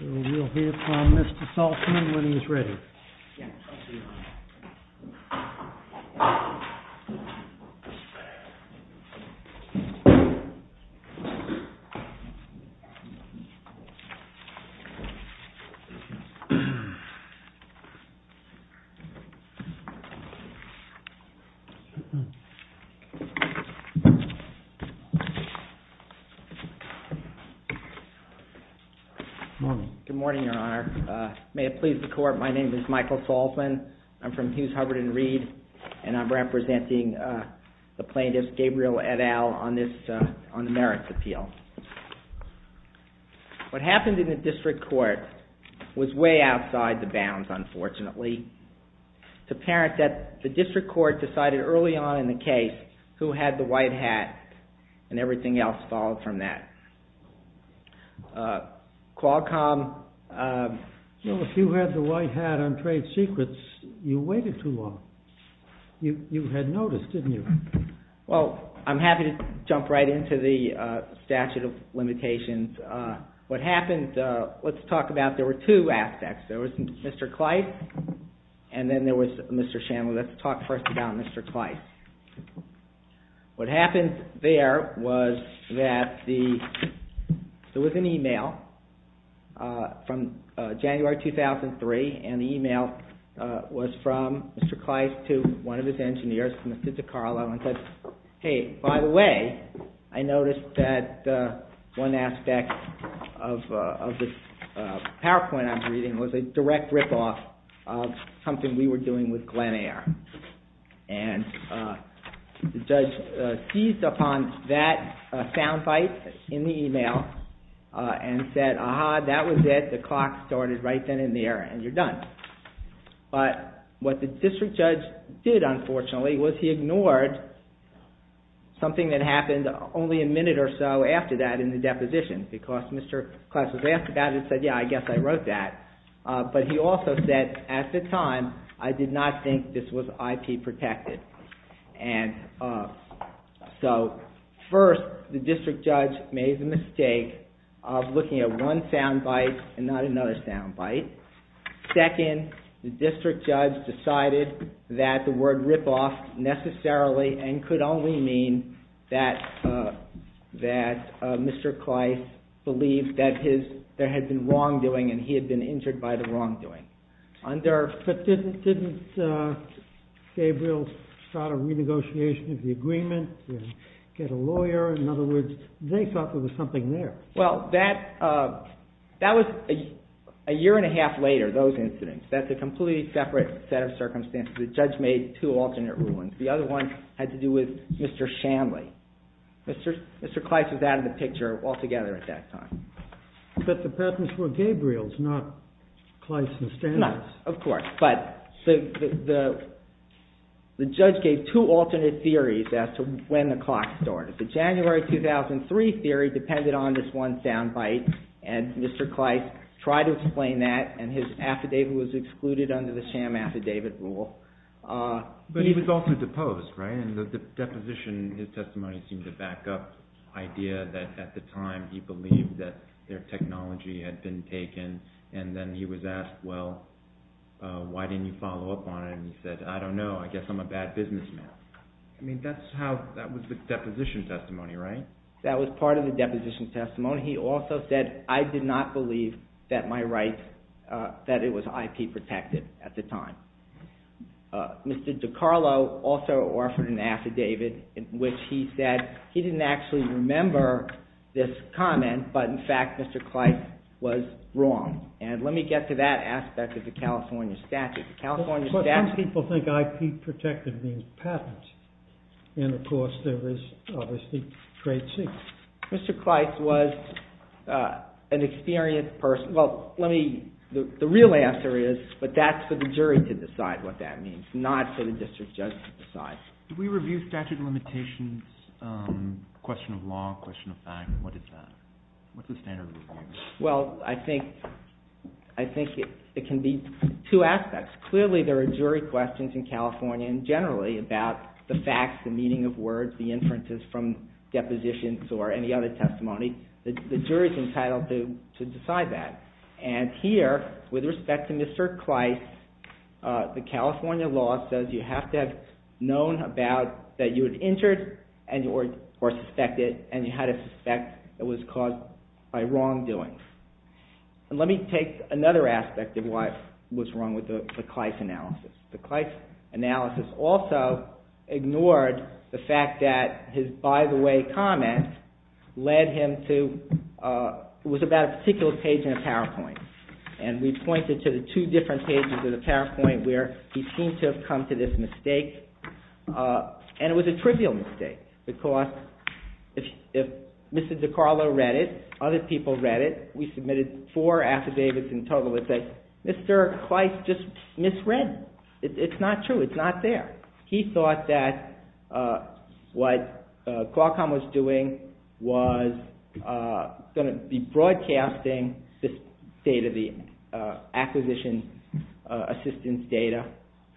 We will hear from Mr. Saltzman when he is ready. Good morning, Your Honor. May it please the Court, my name is Michael Saltzman. I'm from Hughes, Hubbard & Reed, and I'm representing the plaintiff, Gabriel et al., on the merits appeal. What happened in the district court was way outside the bounds, unfortunately. It's apparent that the district court decided early on in the case who had the white hat, and everything else followed from that. Qualcomm... Well, if you had the white hat on trade secrets, you waited too long. You had noticed, didn't you? Well, I'm happy to jump right into the statute of limitations. What happened, let's talk about, there were two aspects. There was Mr. Kleist, and then there was Mr. Shanley. Let's talk first about Mr. Kleist. What happened there was that there was an email from January 2003, and the email was from Mr. Kleist to one of his engineers, Mr. DiCarlo, and said, hey, by the way, I noticed that one aspect of this PowerPoint I'm reading was a direct rip-off of something we were doing with Glenair. And the judge seized upon that sound bite in the email and said, aha, that was it. The clock started right then and there, and you're done. But what the district judge did, unfortunately, was he ignored something that happened only a minute or so after that in the deposition, because Mr. Kleist was asked about it and said, yeah, I guess I wrote that. But he also said, at the time, I did not think this was IP protected. And so, first, the district judge made the mistake of looking at one sound bite and not another sound bite. Second, the district judge decided that the word rip-off necessarily, and could only mean that Mr. Kleist believed that there had been wrongdoing and he had been injured by the wrongdoing. But didn't Gabriel start a renegotiation of the agreement and get a lawyer? In other words, they thought there was something there. Well, that was a year and a half later, those incidents. That's a completely separate set of circumstances. The judge made two alternate rulings. The other one had to do with Mr. Shanley. Mr. Kleist was out of the picture altogether at that time. But the patents were Gabriel's, not Kleist and Stanley's. No, of course. But the judge gave two alternate theories as to when the clock started. The January 2003 theory depended on this one sound bite, and Mr. Kleist tried to explain that, and his affidavit was excluded under the sham affidavit rule. But he was also deposed, right? In the deposition, his testimony seemed to back up the idea that at the time he believed that their technology had been taken, and then he was asked, well, why didn't you follow up on it? And he said, I don't know. I guess I'm a bad businessman. I mean, that was the deposition testimony, right? That was part of the deposition testimony. He also said, I did not believe that my rights, that it was IP protected at the time. Mr. DiCarlo also offered an affidavit in which he said he didn't actually remember this comment, but in fact, Mr. Kleist was wrong. And let me get to that aspect of the California statute. The California statute- But some people think IP protected means patents. And, of course, there is obviously trade secrets. Mr. Kleist was an experienced person. Well, let me- the real answer is, but that's for the jury to decide what that means, not for the district judge to decide. Did we review statute of limitations, question of law, question of fact? What is that? What's the standard review? Well, I think it can be two aspects. Clearly, there are jury questions in California, and generally, about the facts, the meaning of words, the inferences from depositions or any other testimony. The jury's entitled to decide that. And here, with respect to Mr. Kleist, the California law says you have to have known about- that you were injured or suspected, and you had a suspect that was caused by wrongdoing. And let me take another aspect of what's wrong with the Kleist analysis. The Kleist analysis also ignored the fact that his by-the-way comment led him to- was about a particular page in a PowerPoint. And we pointed to the two different pages of the PowerPoint where he seemed to have come to this mistake. And it was a trivial mistake. Because if Mr. DiCarlo read it, other people read it, we submitted four affidavits in total that say, Mr. Kleist just misread. It's not true. It's not there. He thought that what Qualcomm was doing was going to be broadcasting this data, the acquisition assistance data.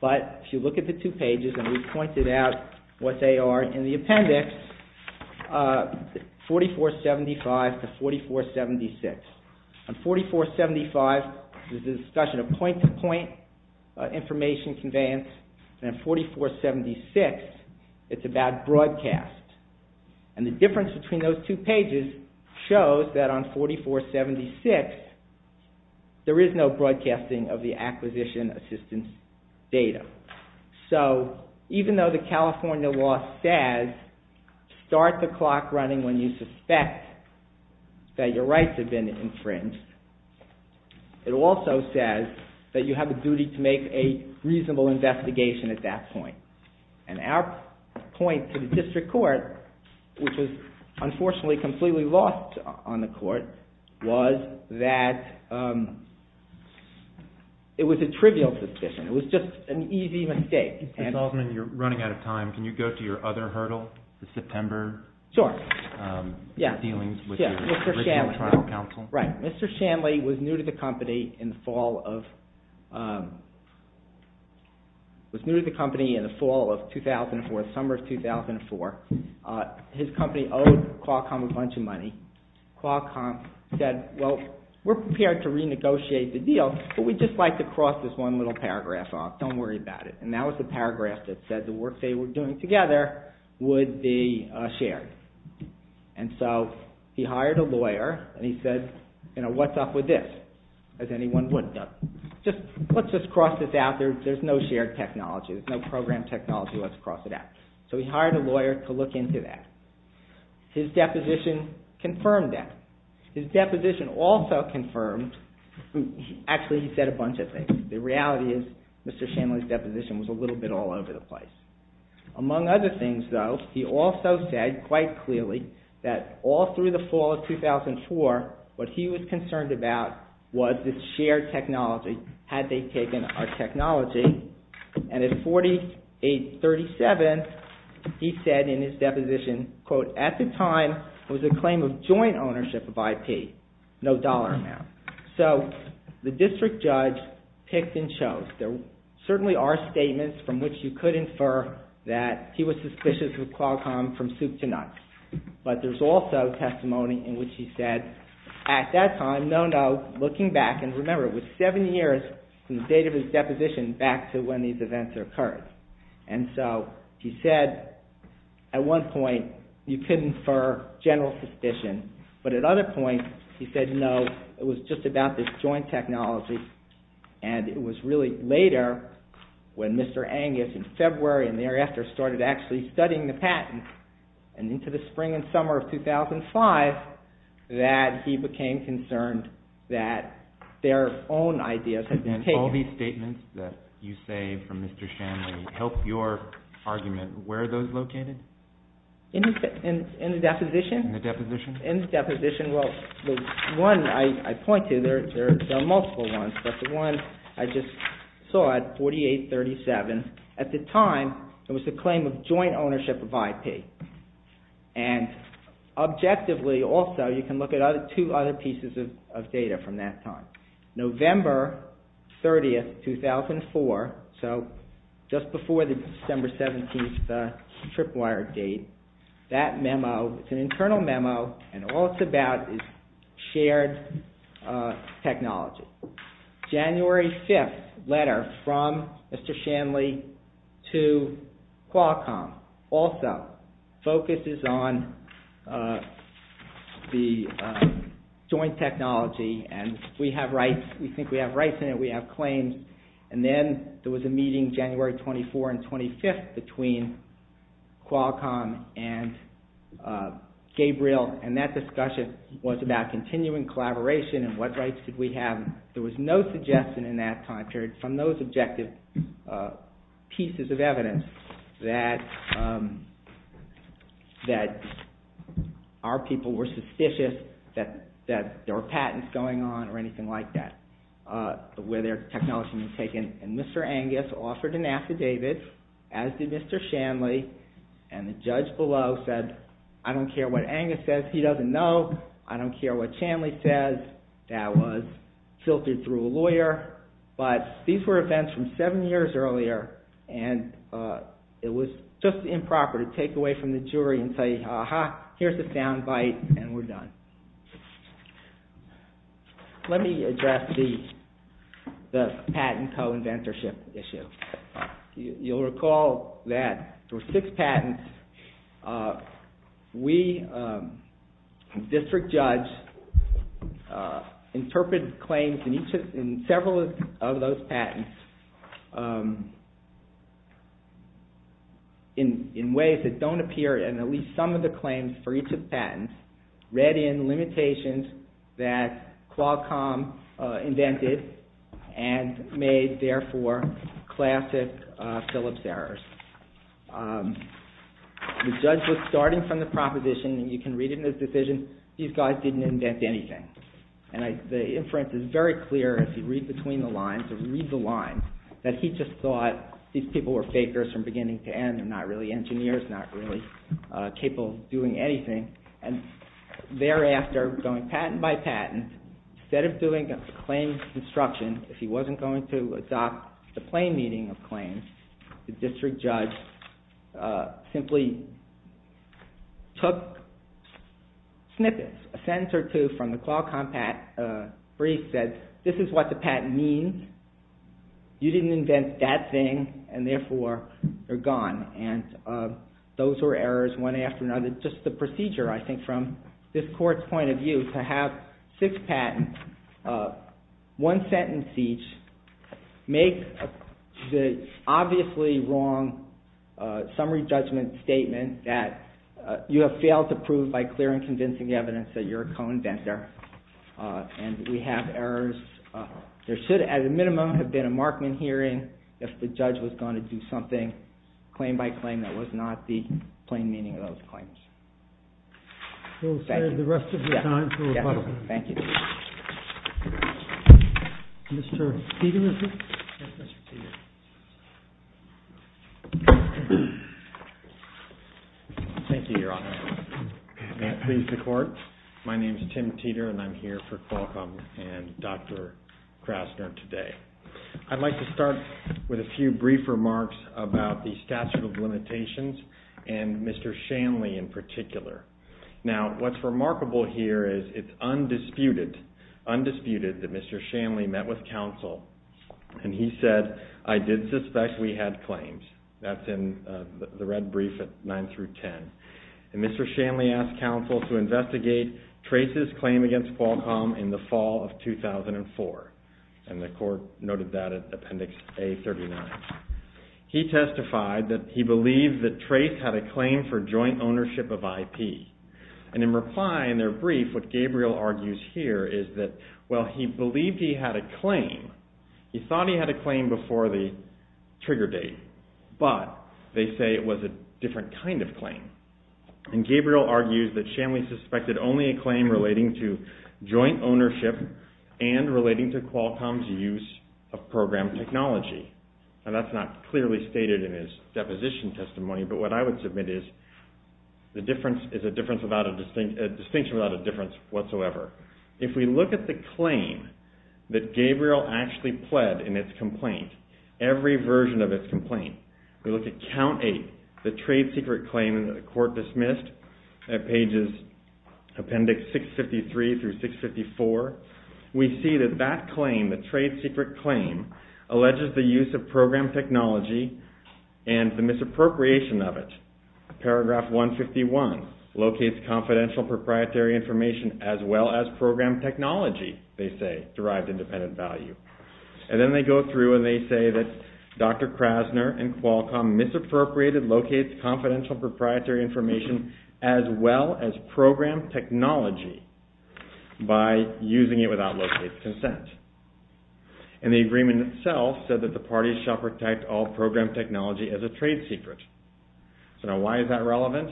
But if you look at the two pages, and we pointed out what they are in the appendix, 4475 to 4476. On 4475, this is a discussion of point-to-point information conveyance. And on 4476, it's about broadcast. And the difference between those two pages shows that on 4476, there is no broadcasting of the acquisition assistance data. So, even though the California law says, start the clock running when you suspect that your rights have been infringed, it also says that you have a duty to make a reasonable investigation at that point. And our point to the district court, which was unfortunately completely lost on the court, was that it was a trivial suspicion. It was just an easy mistake. Mr. Salzman, you're running out of time. Can you go to your other hurdle, the September dealings with the Richmond Tribal Council? Right. Mr. Shanley was new to the company in the fall of 2004, summer of 2004. His company owed Qualcomm a bunch of money. Qualcomm said, well, we're prepared to renegotiate the deal, but we'd just like to cross this one little paragraph off. Don't worry about it. And that was the paragraph that said the work they were doing together would be shared. And so he hired a lawyer and he said, you know, what's up with this? As anyone would know. Let's just cross this out. There's no shared technology. There's no program technology. Let's cross it out. So he hired a lawyer to look into that. His deposition confirmed that. His deposition also confirmed, actually he said a bunch of things. The reality is Mr. Shanley's deposition was a little bit all over the place. Among other things, though, he also said quite clearly that all through the fall of 2004, what he was concerned about was the shared technology, had they taken our technology. And at 48-37, he said in his deposition, quote, at the time it was a claim of joint ownership of IP, no dollar amount. So the district judge picked and chose. There certainly are statements from which you could infer that he was suspicious of Qualcomm from soup to nuts. But there's also testimony in which he said at that time, no, no, looking back, and remember it was seven years from the date of his deposition back to when these events occurred. And so he said at one point you could infer general suspicion, but at other points he said no, it was just about this joint technology and it was really later when Mr. Angus in February and thereafter started actually studying the patents and into the spring and summer of 2005 that he became concerned that their own ideas had been taken. And all these statements that you say from Mr. Shanley help your argument, where are those located? In the deposition? In the deposition. In the deposition, well, the one I point to, there are multiple ones, but the one I just saw at 48-37, at the time it was a claim of joint ownership of IP. And objectively also you can look at two other pieces of data from that time. November 30th, 2004, so just before the December 17th tripwire date, that memo, it's an internal memo, and all it's about is shared technology. January 5th, letter from Mr. Shanley to Qualcomm, also focuses on the joint technology and we have rights, we think we have rights in it, we have claims. And then there was a meeting January 24th and 25th between Qualcomm and Gabriel and that discussion was about continuing collaboration and what rights did we have. There was no suggestion in that time period from those objective pieces of evidence that our people were suspicious that there were patents going on or anything like that, where their technology was taken and Mr. Angus offered an affidavit, as did Mr. Shanley, and the judge below said, I don't care what Angus says, he doesn't know, I don't care what Shanley says, that was filtered through a lawyer, but these were events from seven years earlier and it was just improper to take away from the jury and say, aha, here's a sound bite and we're done. Let me address the patent co-inventorship issue. You'll recall that there were six patents. We, the district judge, interpreted claims in several of those patents in ways that don't appear in at least some of the claims for each of the patents, read in limitations that Qualcomm invented and made, therefore, classic Phillips errors. The judge was starting from the proposition, and you can read it in his decision, these guys didn't invent anything, and the inference is very clear if you read between the lines, if you read the lines, that he just thought these people were fakers from beginning to end, they're not really engineers, not really capable of doing anything, and thereafter, going patent by patent, instead of doing a claim construction, if he wasn't going to adopt the plain meaning of claims, the district judge simply took snippets, a sentence or two from the Qualcomm brief that this is what the patent means, you didn't invent that thing, and therefore, they're gone, and those were errors one after another, just the procedure, I think, from this court's point of view, to have six patents, one sentence each, make the obviously wrong summary judgment statement that you have failed to prove by clear and convincing evidence that you're a co-inventor, and we have errors, there should, at a minimum, have been a Markman hearing, if the judge was going to do something, claim by claim, that was not the plain meaning of those claims. Thank you. Mr. Peterson? Thank you, Your Honor. May it please the court, my name is Tim Teeter, and I'm here for Qualcomm and Dr. Krasner today. I'd like to start with a few brief remarks about the statute of limitations and Mr. Shanley in particular. Now, what's remarkable here is it's undisputed that Mr. Shanley met with counsel and he said, I did suspect we had claims, that's in the red brief at 9 through 10, and Mr. Shanley asked counsel to investigate Trace's claim against Qualcomm in the fall of 2004, and the court noted that at Appendix A-39. He testified that he believed that Trace had a claim for joint ownership of IP, and in reply in their brief, what Gabriel argues here is that while he believed he had a claim, he thought he had a claim before the trigger date, but they say it was a different kind of claim. And Gabriel argues that Shanley suspected only a claim relating to joint ownership and relating to Qualcomm's use of program technology. Now, that's not clearly stated in his deposition testimony, but what I would submit is the difference is a distinction without a difference whatsoever. If we look at the claim that Gabriel actually pled in its complaint, every version of its complaint, we look at Count 8, the trade secret claim that the court dismissed at pages Appendix 653 through 654, we see that that claim, the trade secret claim, alleges the use of program technology and the misappropriation of it. Paragraph 151, locates confidential proprietary information as well as program technology, they say, derived independent value. And then they go through and they say that Dr. Krasner and Qualcomm misappropriated, locates confidential proprietary information as well as program technology by using it without locate consent. And the agreement itself said that the parties shall protect all program technology as a trade secret. So now why is that relevant?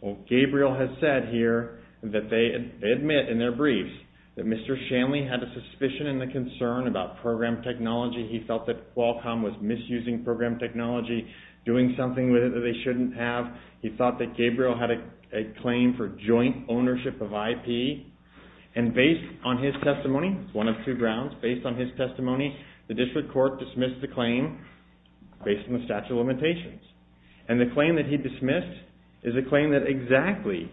Well, Gabriel has said here that they admit in their briefs that Mr. Shanley had a suspicion and a concern about program technology. He felt that Qualcomm was misusing program technology, doing something with it that they shouldn't have. He thought that Gabriel had a claim for joint ownership of IP. And based on his testimony, it's one of two grounds, based on his testimony, the district court dismissed the claim based on the statute of limitations. And the claim that he dismissed is a claim that exactly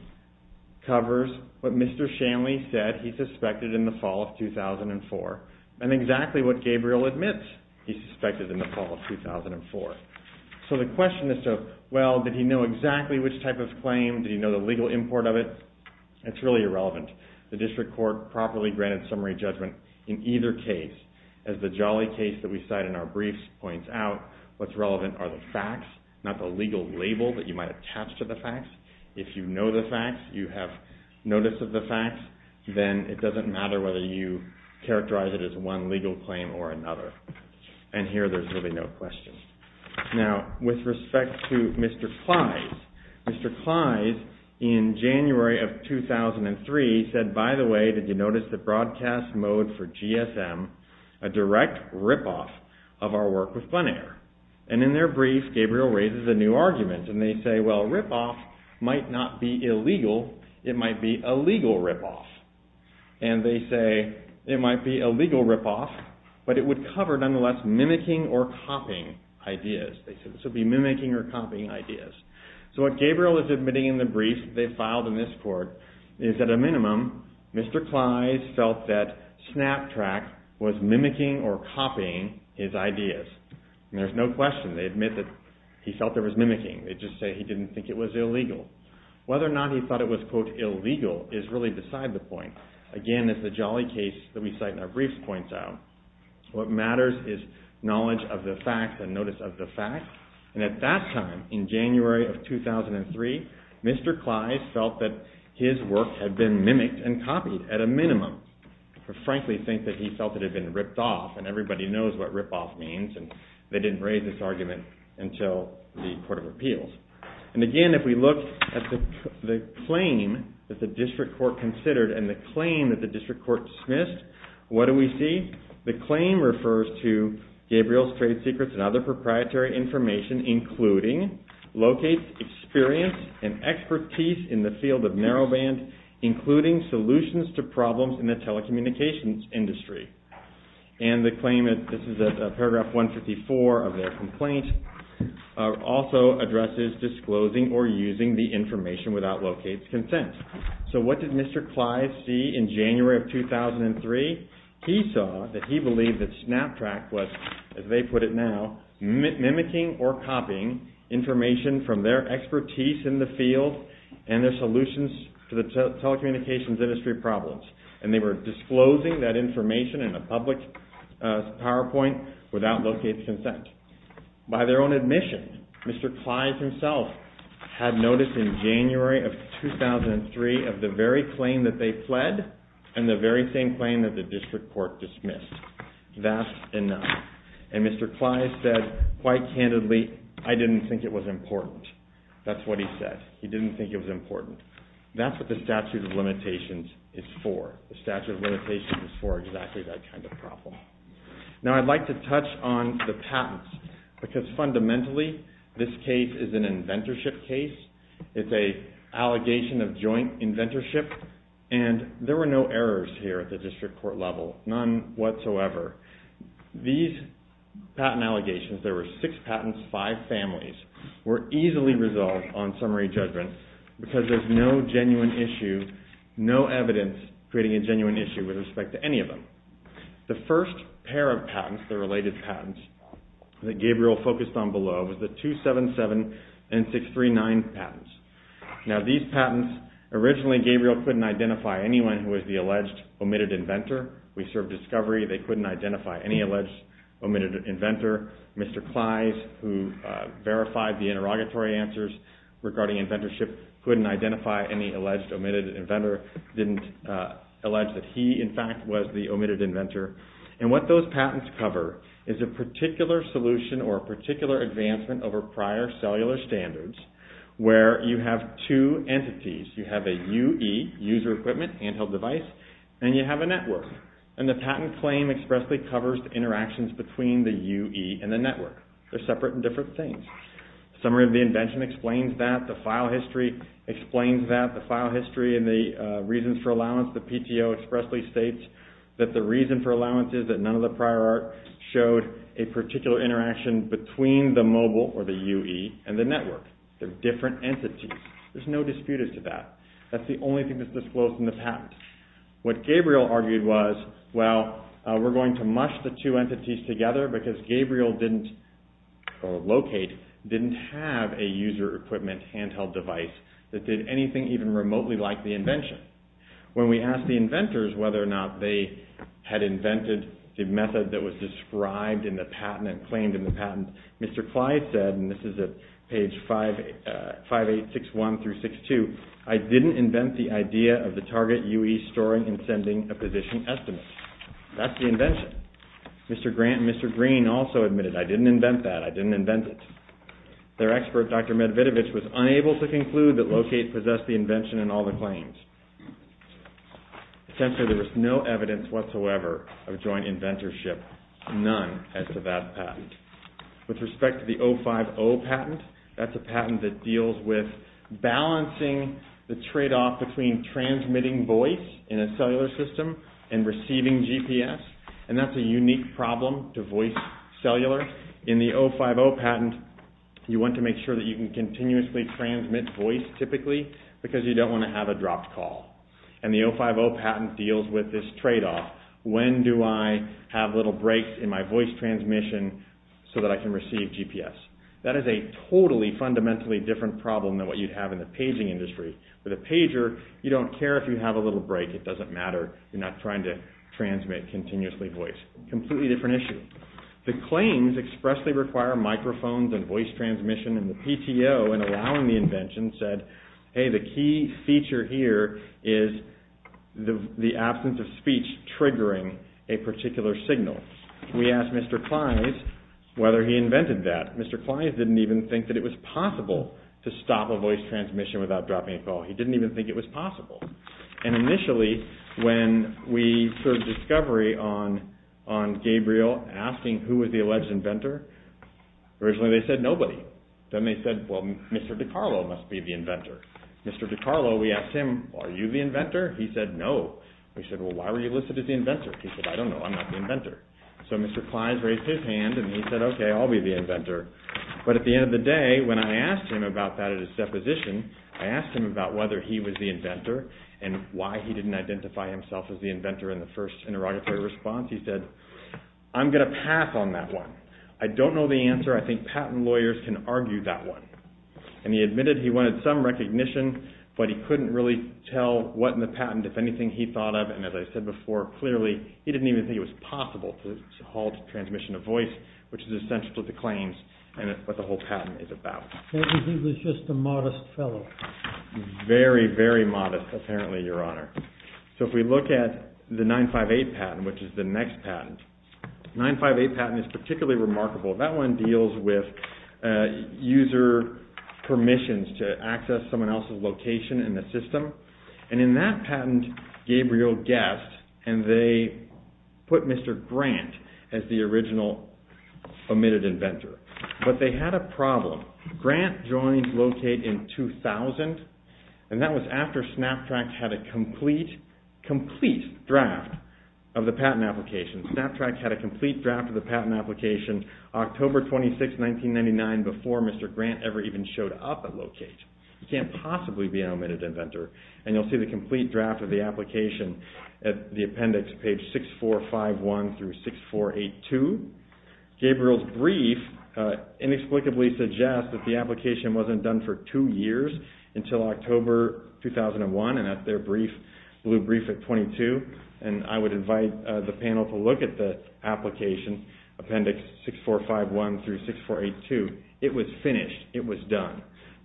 covers what Mr. Shanley said he suspected in the fall of 2004 and exactly what Gabriel admits he suspected in the fall of 2004. So the question is, well, did he know exactly which type of claim? Did he know the legal import of it? It's really irrelevant. The district court properly granted summary judgment in either case. As the jolly case that we cite in our briefs points out, what's relevant are the facts, not the legal label that you might attach to the facts. If you know the facts, you have notice of the facts, then it doesn't matter whether you characterize it as one legal claim or another. And here, there's really no question. Now, with respect to Mr. Clise, Mr. Clise, in January of 2003, said, by the way, did you notice the broadcast mode for GSM, a direct ripoff of our work with Bonaire. And in their brief, Gabriel raises a new argument. And they say, well, ripoff might not be illegal. It might be a legal ripoff. And they say, it might be a legal ripoff, but it would cover, nonetheless, mimicking or copying ideas. They said this would be mimicking or copying ideas. So what Gabriel is admitting in the brief they filed in this court is, at a minimum, Mr. Clise felt that SnapTrack was mimicking or copying his ideas. And there's no question. They admit that he felt there was mimicking. They just say he didn't think it was illegal. Whether or not he thought it was, quote, illegal is really beside the point. Again, as the jolly case that we cite in our briefs points out, what matters is knowledge of the facts and notice of the facts. And at that time, in January of 2003, Mr. Clise felt that his work had been mimicked and copied, at a minimum. To frankly think that he felt it had been ripped off, and everybody knows what ripoff means, and they didn't raise this argument until the Court of Appeals. And again, if we look at the claim that the District Court considered and the claim that the District Court dismissed, what do we see? The claim refers to Gabriel's trade secrets and other proprietary information, including locates experience and expertise in the field of narrowband, including solutions to problems in the telecommunications industry. And the claim, this is paragraph 154 of their complaint, also addresses disclosing or using the information without locates consent. So what did Mr. Clise see in January of 2003? He saw that he believed that SnapTrack was, as they put it now, mimicking or copying information from their expertise in the field and their solutions to the telecommunications industry problems. And they were disclosing that information in a public PowerPoint without locates consent. By their own admission, Mr. Clise himself had noticed in January of 2003 of the very claim that they fled and the very same claim that the District Court dismissed. That's enough. And Mr. Clise said, quite candidly, I didn't think it was important. That's what he said. He didn't think it was important. That's what the statute of limitations is for. The statute of limitations is for exactly that kind of problem. Now I'd like to touch on the patents, because fundamentally this case is an inventorship case. It's an allegation of joint inventorship, and there were no errors here at the District Court level. None whatsoever. These patent allegations, there were six patents, five families, were easily resolved on summary judgment because there's no genuine issue, no evidence creating a genuine issue with respect to any of them. The first pair of patents, the related patents that Gabriel focused on below, was the 277639 patents. Now these patents, originally Gabriel couldn't identify anyone who was the alleged omitted inventor. We served discovery. They couldn't identify any alleged omitted inventor. Mr. Clise, who verified the interrogatory answers regarding inventorship, couldn't identify any alleged omitted inventor, didn't allege that he, in fact, was the omitted inventor. And what those patents cover is a particular solution or a particular advancement over prior cellular standards where you have two entities. You have a UE, user equipment, handheld device, and you have a network. And the patent claim expressly covers the interactions between the UE and the network. They're separate and different things. The summary of the invention explains that. The file history explains that. The file history and the reasons for allowance, the PTO expressly states that the reason for allowance is that none of the prior art showed a particular interaction between the mobile, or the UE, and the network. They're different entities. There's no dispute as to that. That's the only thing that's disclosed in the patent. What Gabriel argued was, well, we're going to mush the two entities together because Gabriel didn't locate, didn't have a user equipment handheld device that did anything even remotely like the invention. When we asked the inventors whether or not they had invented the method that was described in the patent and claimed in the patent, Mr. Clise said, and this is at page 5861 through 62, I didn't invent the idea of the target UE storing and sending a position estimate. That's the invention. Mr. Grant and Mr. Green also admitted, I didn't invent that, I didn't invent it. Their expert, Dr. Medvedevich, was unable to conclude that Locate possessed the invention in all the claims. Essentially, there was no evidence whatsoever of joint inventorship, none as to that patent. With respect to the 050 patent, that's a patent that deals with the tradeoff between transmitting voice in a cellular system and receiving GPS. That's a unique problem to voice cellular. In the 050 patent, you want to make sure that you can continuously transmit voice typically because you don't want to have a dropped call. The 050 patent deals with this tradeoff. When do I have little breaks in my voice transmission so that I can receive GPS? That is a totally fundamentally different problem than what you'd have in the paging industry. With a pager, you don't care if you have a little break. It doesn't matter. You're not trying to transmit continuously voice. Completely different issue. The claims expressly require microphones and voice transmission, and the PTO, in allowing the invention, said, hey, the key feature here is the absence of speech triggering a particular signal. We asked Mr. Clise whether he invented that. Mr. Clise didn't even think that it was possible to stop a voice transmission without dropping a call. He didn't even think it was possible. Initially, when we started discovery on Gabriel, asking who was the alleged inventor, originally they said nobody. Then they said, well, Mr. DiCarlo must be the inventor. Mr. DiCarlo, we asked him, are you the inventor? He said, no. We said, well, why were you listed as the inventor? He said, I don't know. I'm not the inventor. So Mr. Clise raised his hand, and he said, okay, I'll be the inventor. But at the end of the day, when I asked him about that at his deposition, I asked him about whether he was the inventor and why he didn't identify himself as the inventor in the first interrogatory response. He said, I'm going to pass on that one. I don't know the answer. I think patent lawyers can argue that one. And he admitted he wanted some recognition, but he couldn't really tell what in the patent, if anything, he thought of. As I said before, clearly he didn't even think it was possible to halt transmission of voice, which is essential to the claims and what the whole patent is about. He was just a modest fellow. Very, very modest, apparently, Your Honor. So if we look at the 958 patent, which is the next patent, the 958 patent is particularly remarkable. That one deals with user permissions to access someone else's location in the system. And in that patent, Gabriel guessed, and they put Mr. Grant as the original omitted inventor. But they had a problem. Grant joins LOCATE in 2000, and that was after SnapTrack had a complete draft of the patent application. SnapTrack had a complete draft of the patent application October 26, 1999, before Mr. Grant ever even showed up at LOCATE. He can't possibly be an omitted inventor. And you'll see the complete draft of the application at the appendix, page 6451 through 6482. Gabriel's brief inexplicably suggests that the application wasn't done for two years until October 2001, and that's their brief, blue brief at 22. And I would invite the panel to look at the application, appendix 6451 through 6482. It was finished. It was done.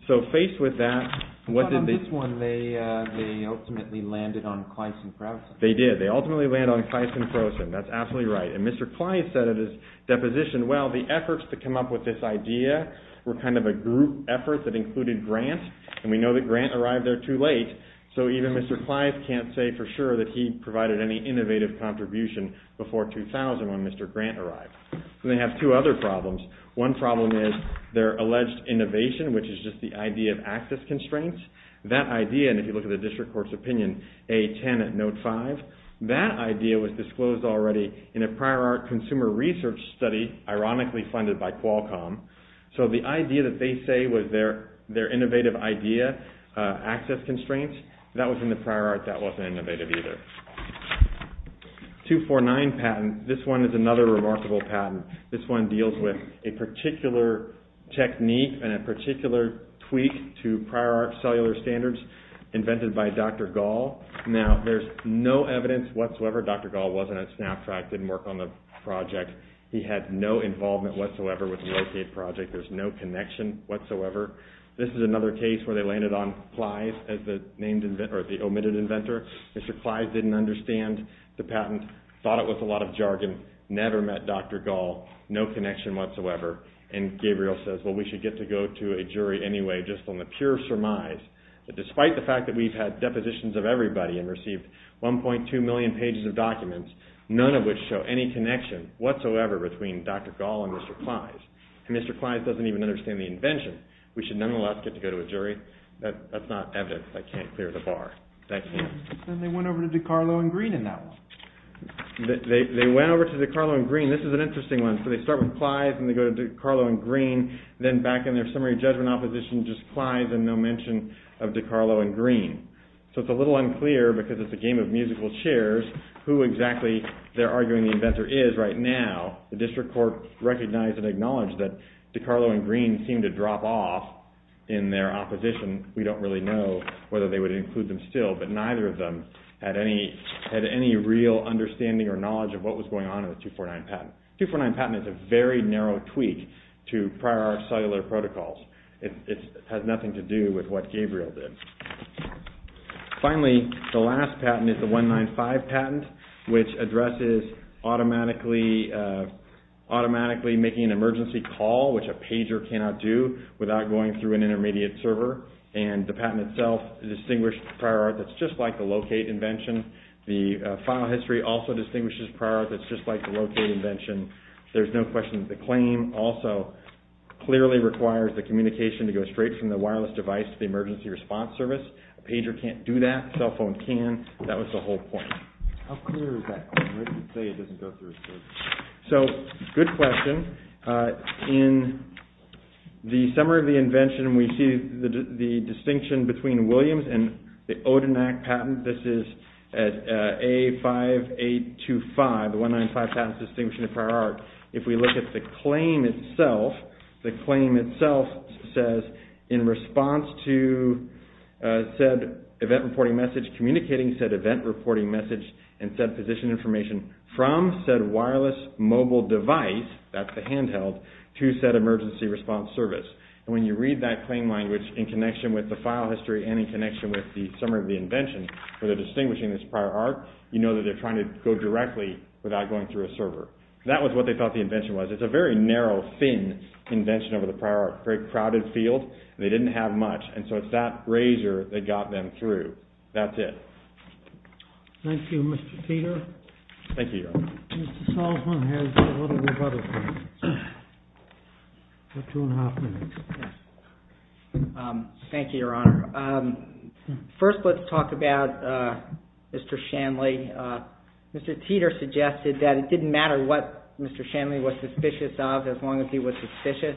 So faced with that, what did they do? But on this one, they ultimately landed on Kleist and Frosin. They did. They ultimately landed on Kleist and Frosin. That's absolutely right. And Mr. Kleist said in his deposition, well, the efforts to come up with this idea were kind of a group effort that included Grant. And we know that Grant arrived there too late, so even Mr. Kleist can't say for sure that he provided any innovative contribution before 2000 when Mr. Grant arrived. And they have two other problems. One problem is their alleged innovation, which is just the idea of access constraints. That idea, and if you look at the district court's opinion, A-10 at note 5, that idea was disclosed already in a prior art consumer research study, ironically funded by Qualcomm. So the idea that they say was their innovative idea, access constraints, that was in the prior art. That wasn't innovative either. 249 patent, this one is another remarkable patent. This one deals with a particular technique and a particular tweak to prior art cellular standards invented by Dr. Gall. Now, there's no evidence whatsoever. Dr. Gall wasn't at SnapTrack, didn't work on the project. He had no involvement whatsoever with the Locate project. There's no connection whatsoever. This is another case where they landed on Kleist as the omitted inventor. Mr. Kleist didn't understand the patent, thought it was a lot of jargon, never met Dr. Gall, no connection whatsoever. And Gabriel says, well, we should get to go to a jury anyway just on the pure surmise that despite the fact that we've had depositions of everybody and received 1.2 million pages of documents, none of which show any connection whatsoever between Dr. Gall and Mr. Kleist. And Mr. Kleist doesn't even understand the invention. We should nonetheless get to go to a jury. That's not evidence that can't clear the bar. They went over to DiCarlo and Green in that one. They went over to DiCarlo and Green. This is an interesting one. So they start with Kleist and they go to DiCarlo and Green. Then back in their summary judgment opposition, just Kleist and no mention of DiCarlo and Green. So it's a little unclear because it's a game of musical chairs who exactly they're arguing the inventor is right now. The district court recognized and acknowledged that DiCarlo and Green seemed to drop off in their opposition. We don't really know whether they would include them still, but neither of them had any real understanding or knowledge of what was going on in the 249 patent. The 249 patent is a very narrow tweak to prior art cellular protocols. It has nothing to do with what Gabriel did. Finally, the last patent is the 195 patent, which addresses automatically making an emergency call, which a pager cannot do without going through an intermediate server. The patent itself distinguished prior art that's just like the locate invention. The file history also distinguishes prior art that's just like the locate invention. There's no question that the claim also clearly requires the communication to go straight from the wireless device to the emergency response service. A pager can't do that. A cell phone can. That was the whole point. How clear is that claim? Where does it say it doesn't go through a server? So, good question. In the summary of the invention, we see the distinction between Williams and the Odenak patent. This is at A5825, the 195 patent distinguishing prior art. If we look at the claim itself, the claim itself says in response to said event reporting message communicating said event reporting message and said position information from said wireless mobile device, that's the handheld, to said emergency response service. And when you read that claim language in connection with the file history and in connection with the summary of the invention, where they're distinguishing this prior art, you know that they're trying to go directly without going through a server. That was what they thought the invention was. It's a very narrow, thin invention over the prior art. Very crowded field. They didn't have much, and so it's that razor that got them through. That's it. Thank you, Mr. Peter. Thank you, Your Honor. Mr. Salzman has a little bit of other things. About two and a half minutes. Thank you, Your Honor. First, let's talk about Mr. Shanley. Mr. Teeter suggested that it didn't matter what Mr. Shanley was suspicious of as long as he was suspicious.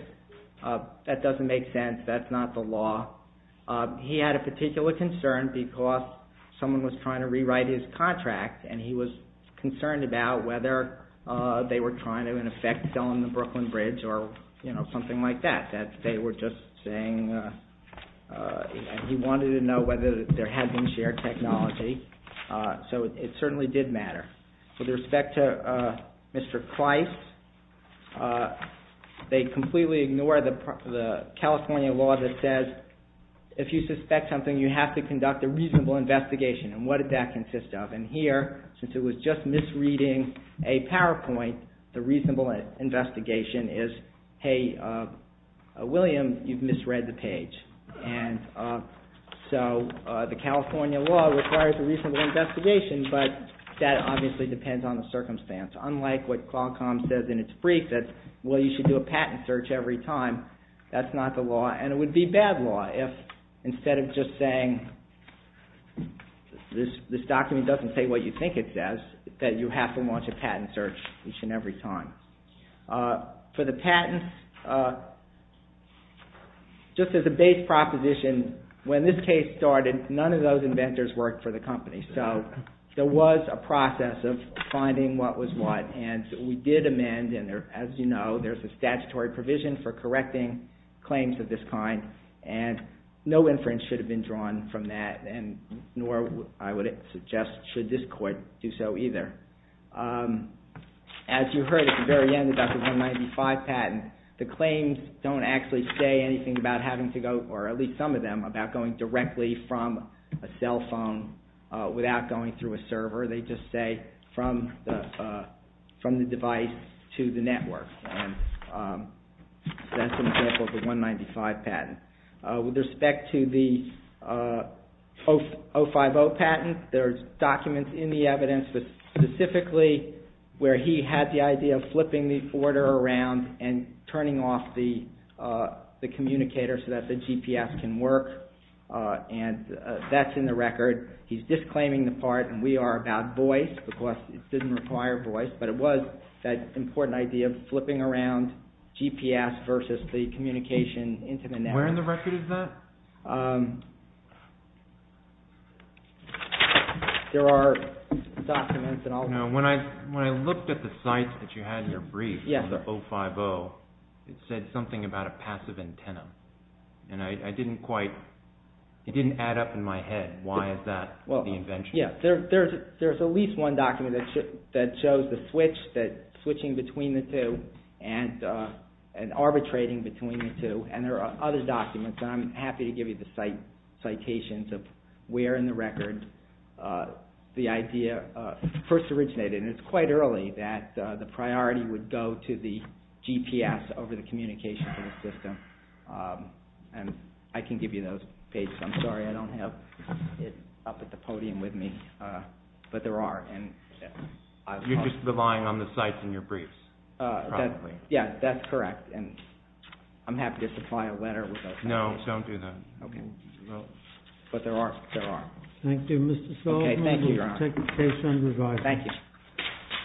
That doesn't make sense. That's not the law. He had a particular concern because someone was trying to rewrite his contract, and he was concerned about whether they were trying to, in effect, sell him the Brooklyn Bridge or something like that. They were just saying he wanted to know whether there had been shared technology. So it certainly did matter. With respect to Mr. Price, they completely ignore the California law that says if you suspect something, you have to conduct a reasonable investigation. And what did that consist of? And here, since it was just misreading a PowerPoint, the reasonable investigation is, hey, William, you've misread the page. And so the California law requires a reasonable investigation, but that obviously depends on the circumstance. Unlike what Qualcomm says in its brief that, well, you should do a patent search every time, that's not the law, and it would be bad law if instead of just saying this document doesn't say what you think it says, that you have to launch a patent search each and every time. For the patents, just as a base proposition, when this case started, none of those inventors worked for the company. So there was a process of finding what was what, and we did amend, and as you know, there's a statutory provision for correcting claims of this kind, and no inference should have been drawn from that, nor, I would suggest, should this court do so either. As you heard at the very end about the 195 patent, the claims don't actually say anything about having to go, or at least some of them, about going directly from a cell phone without going through a server. They just say from the device to the network. So that's an example of the 195 patent. With respect to the 050 patent, there are documents in the evidence specifically where he had the idea of flipping the order around and turning off the communicator so that the GPS can work, and that's in the record. He's disclaiming the part, and we are about voice, because it doesn't require voice, but it was that important idea of flipping around GPS versus the communication into the network. Where in the record is that? There are documents and all that. When I looked at the sites that you had in your brief on the 050, it said something about a passive antenna, and it didn't add up in my head. Why is that the invention? There's at least one document that shows the switch, switching between the two and arbitrating between the two, and there are other documents. I'm happy to give you the citations of where in the record the idea first originated, and it's quite early that the priority would go to the GPS over the communication for the system. I can give you those pages. I'm sorry I don't have it up at the podium with me, but there are. You're just relying on the sites in your briefs? Yeah, that's correct, and I'm happy to supply a letter with those pages. No, don't do that. But there are. Thank you, Mr. Sullivan. Okay, thank you, Your Honor. We'll take the case under review. Thank you.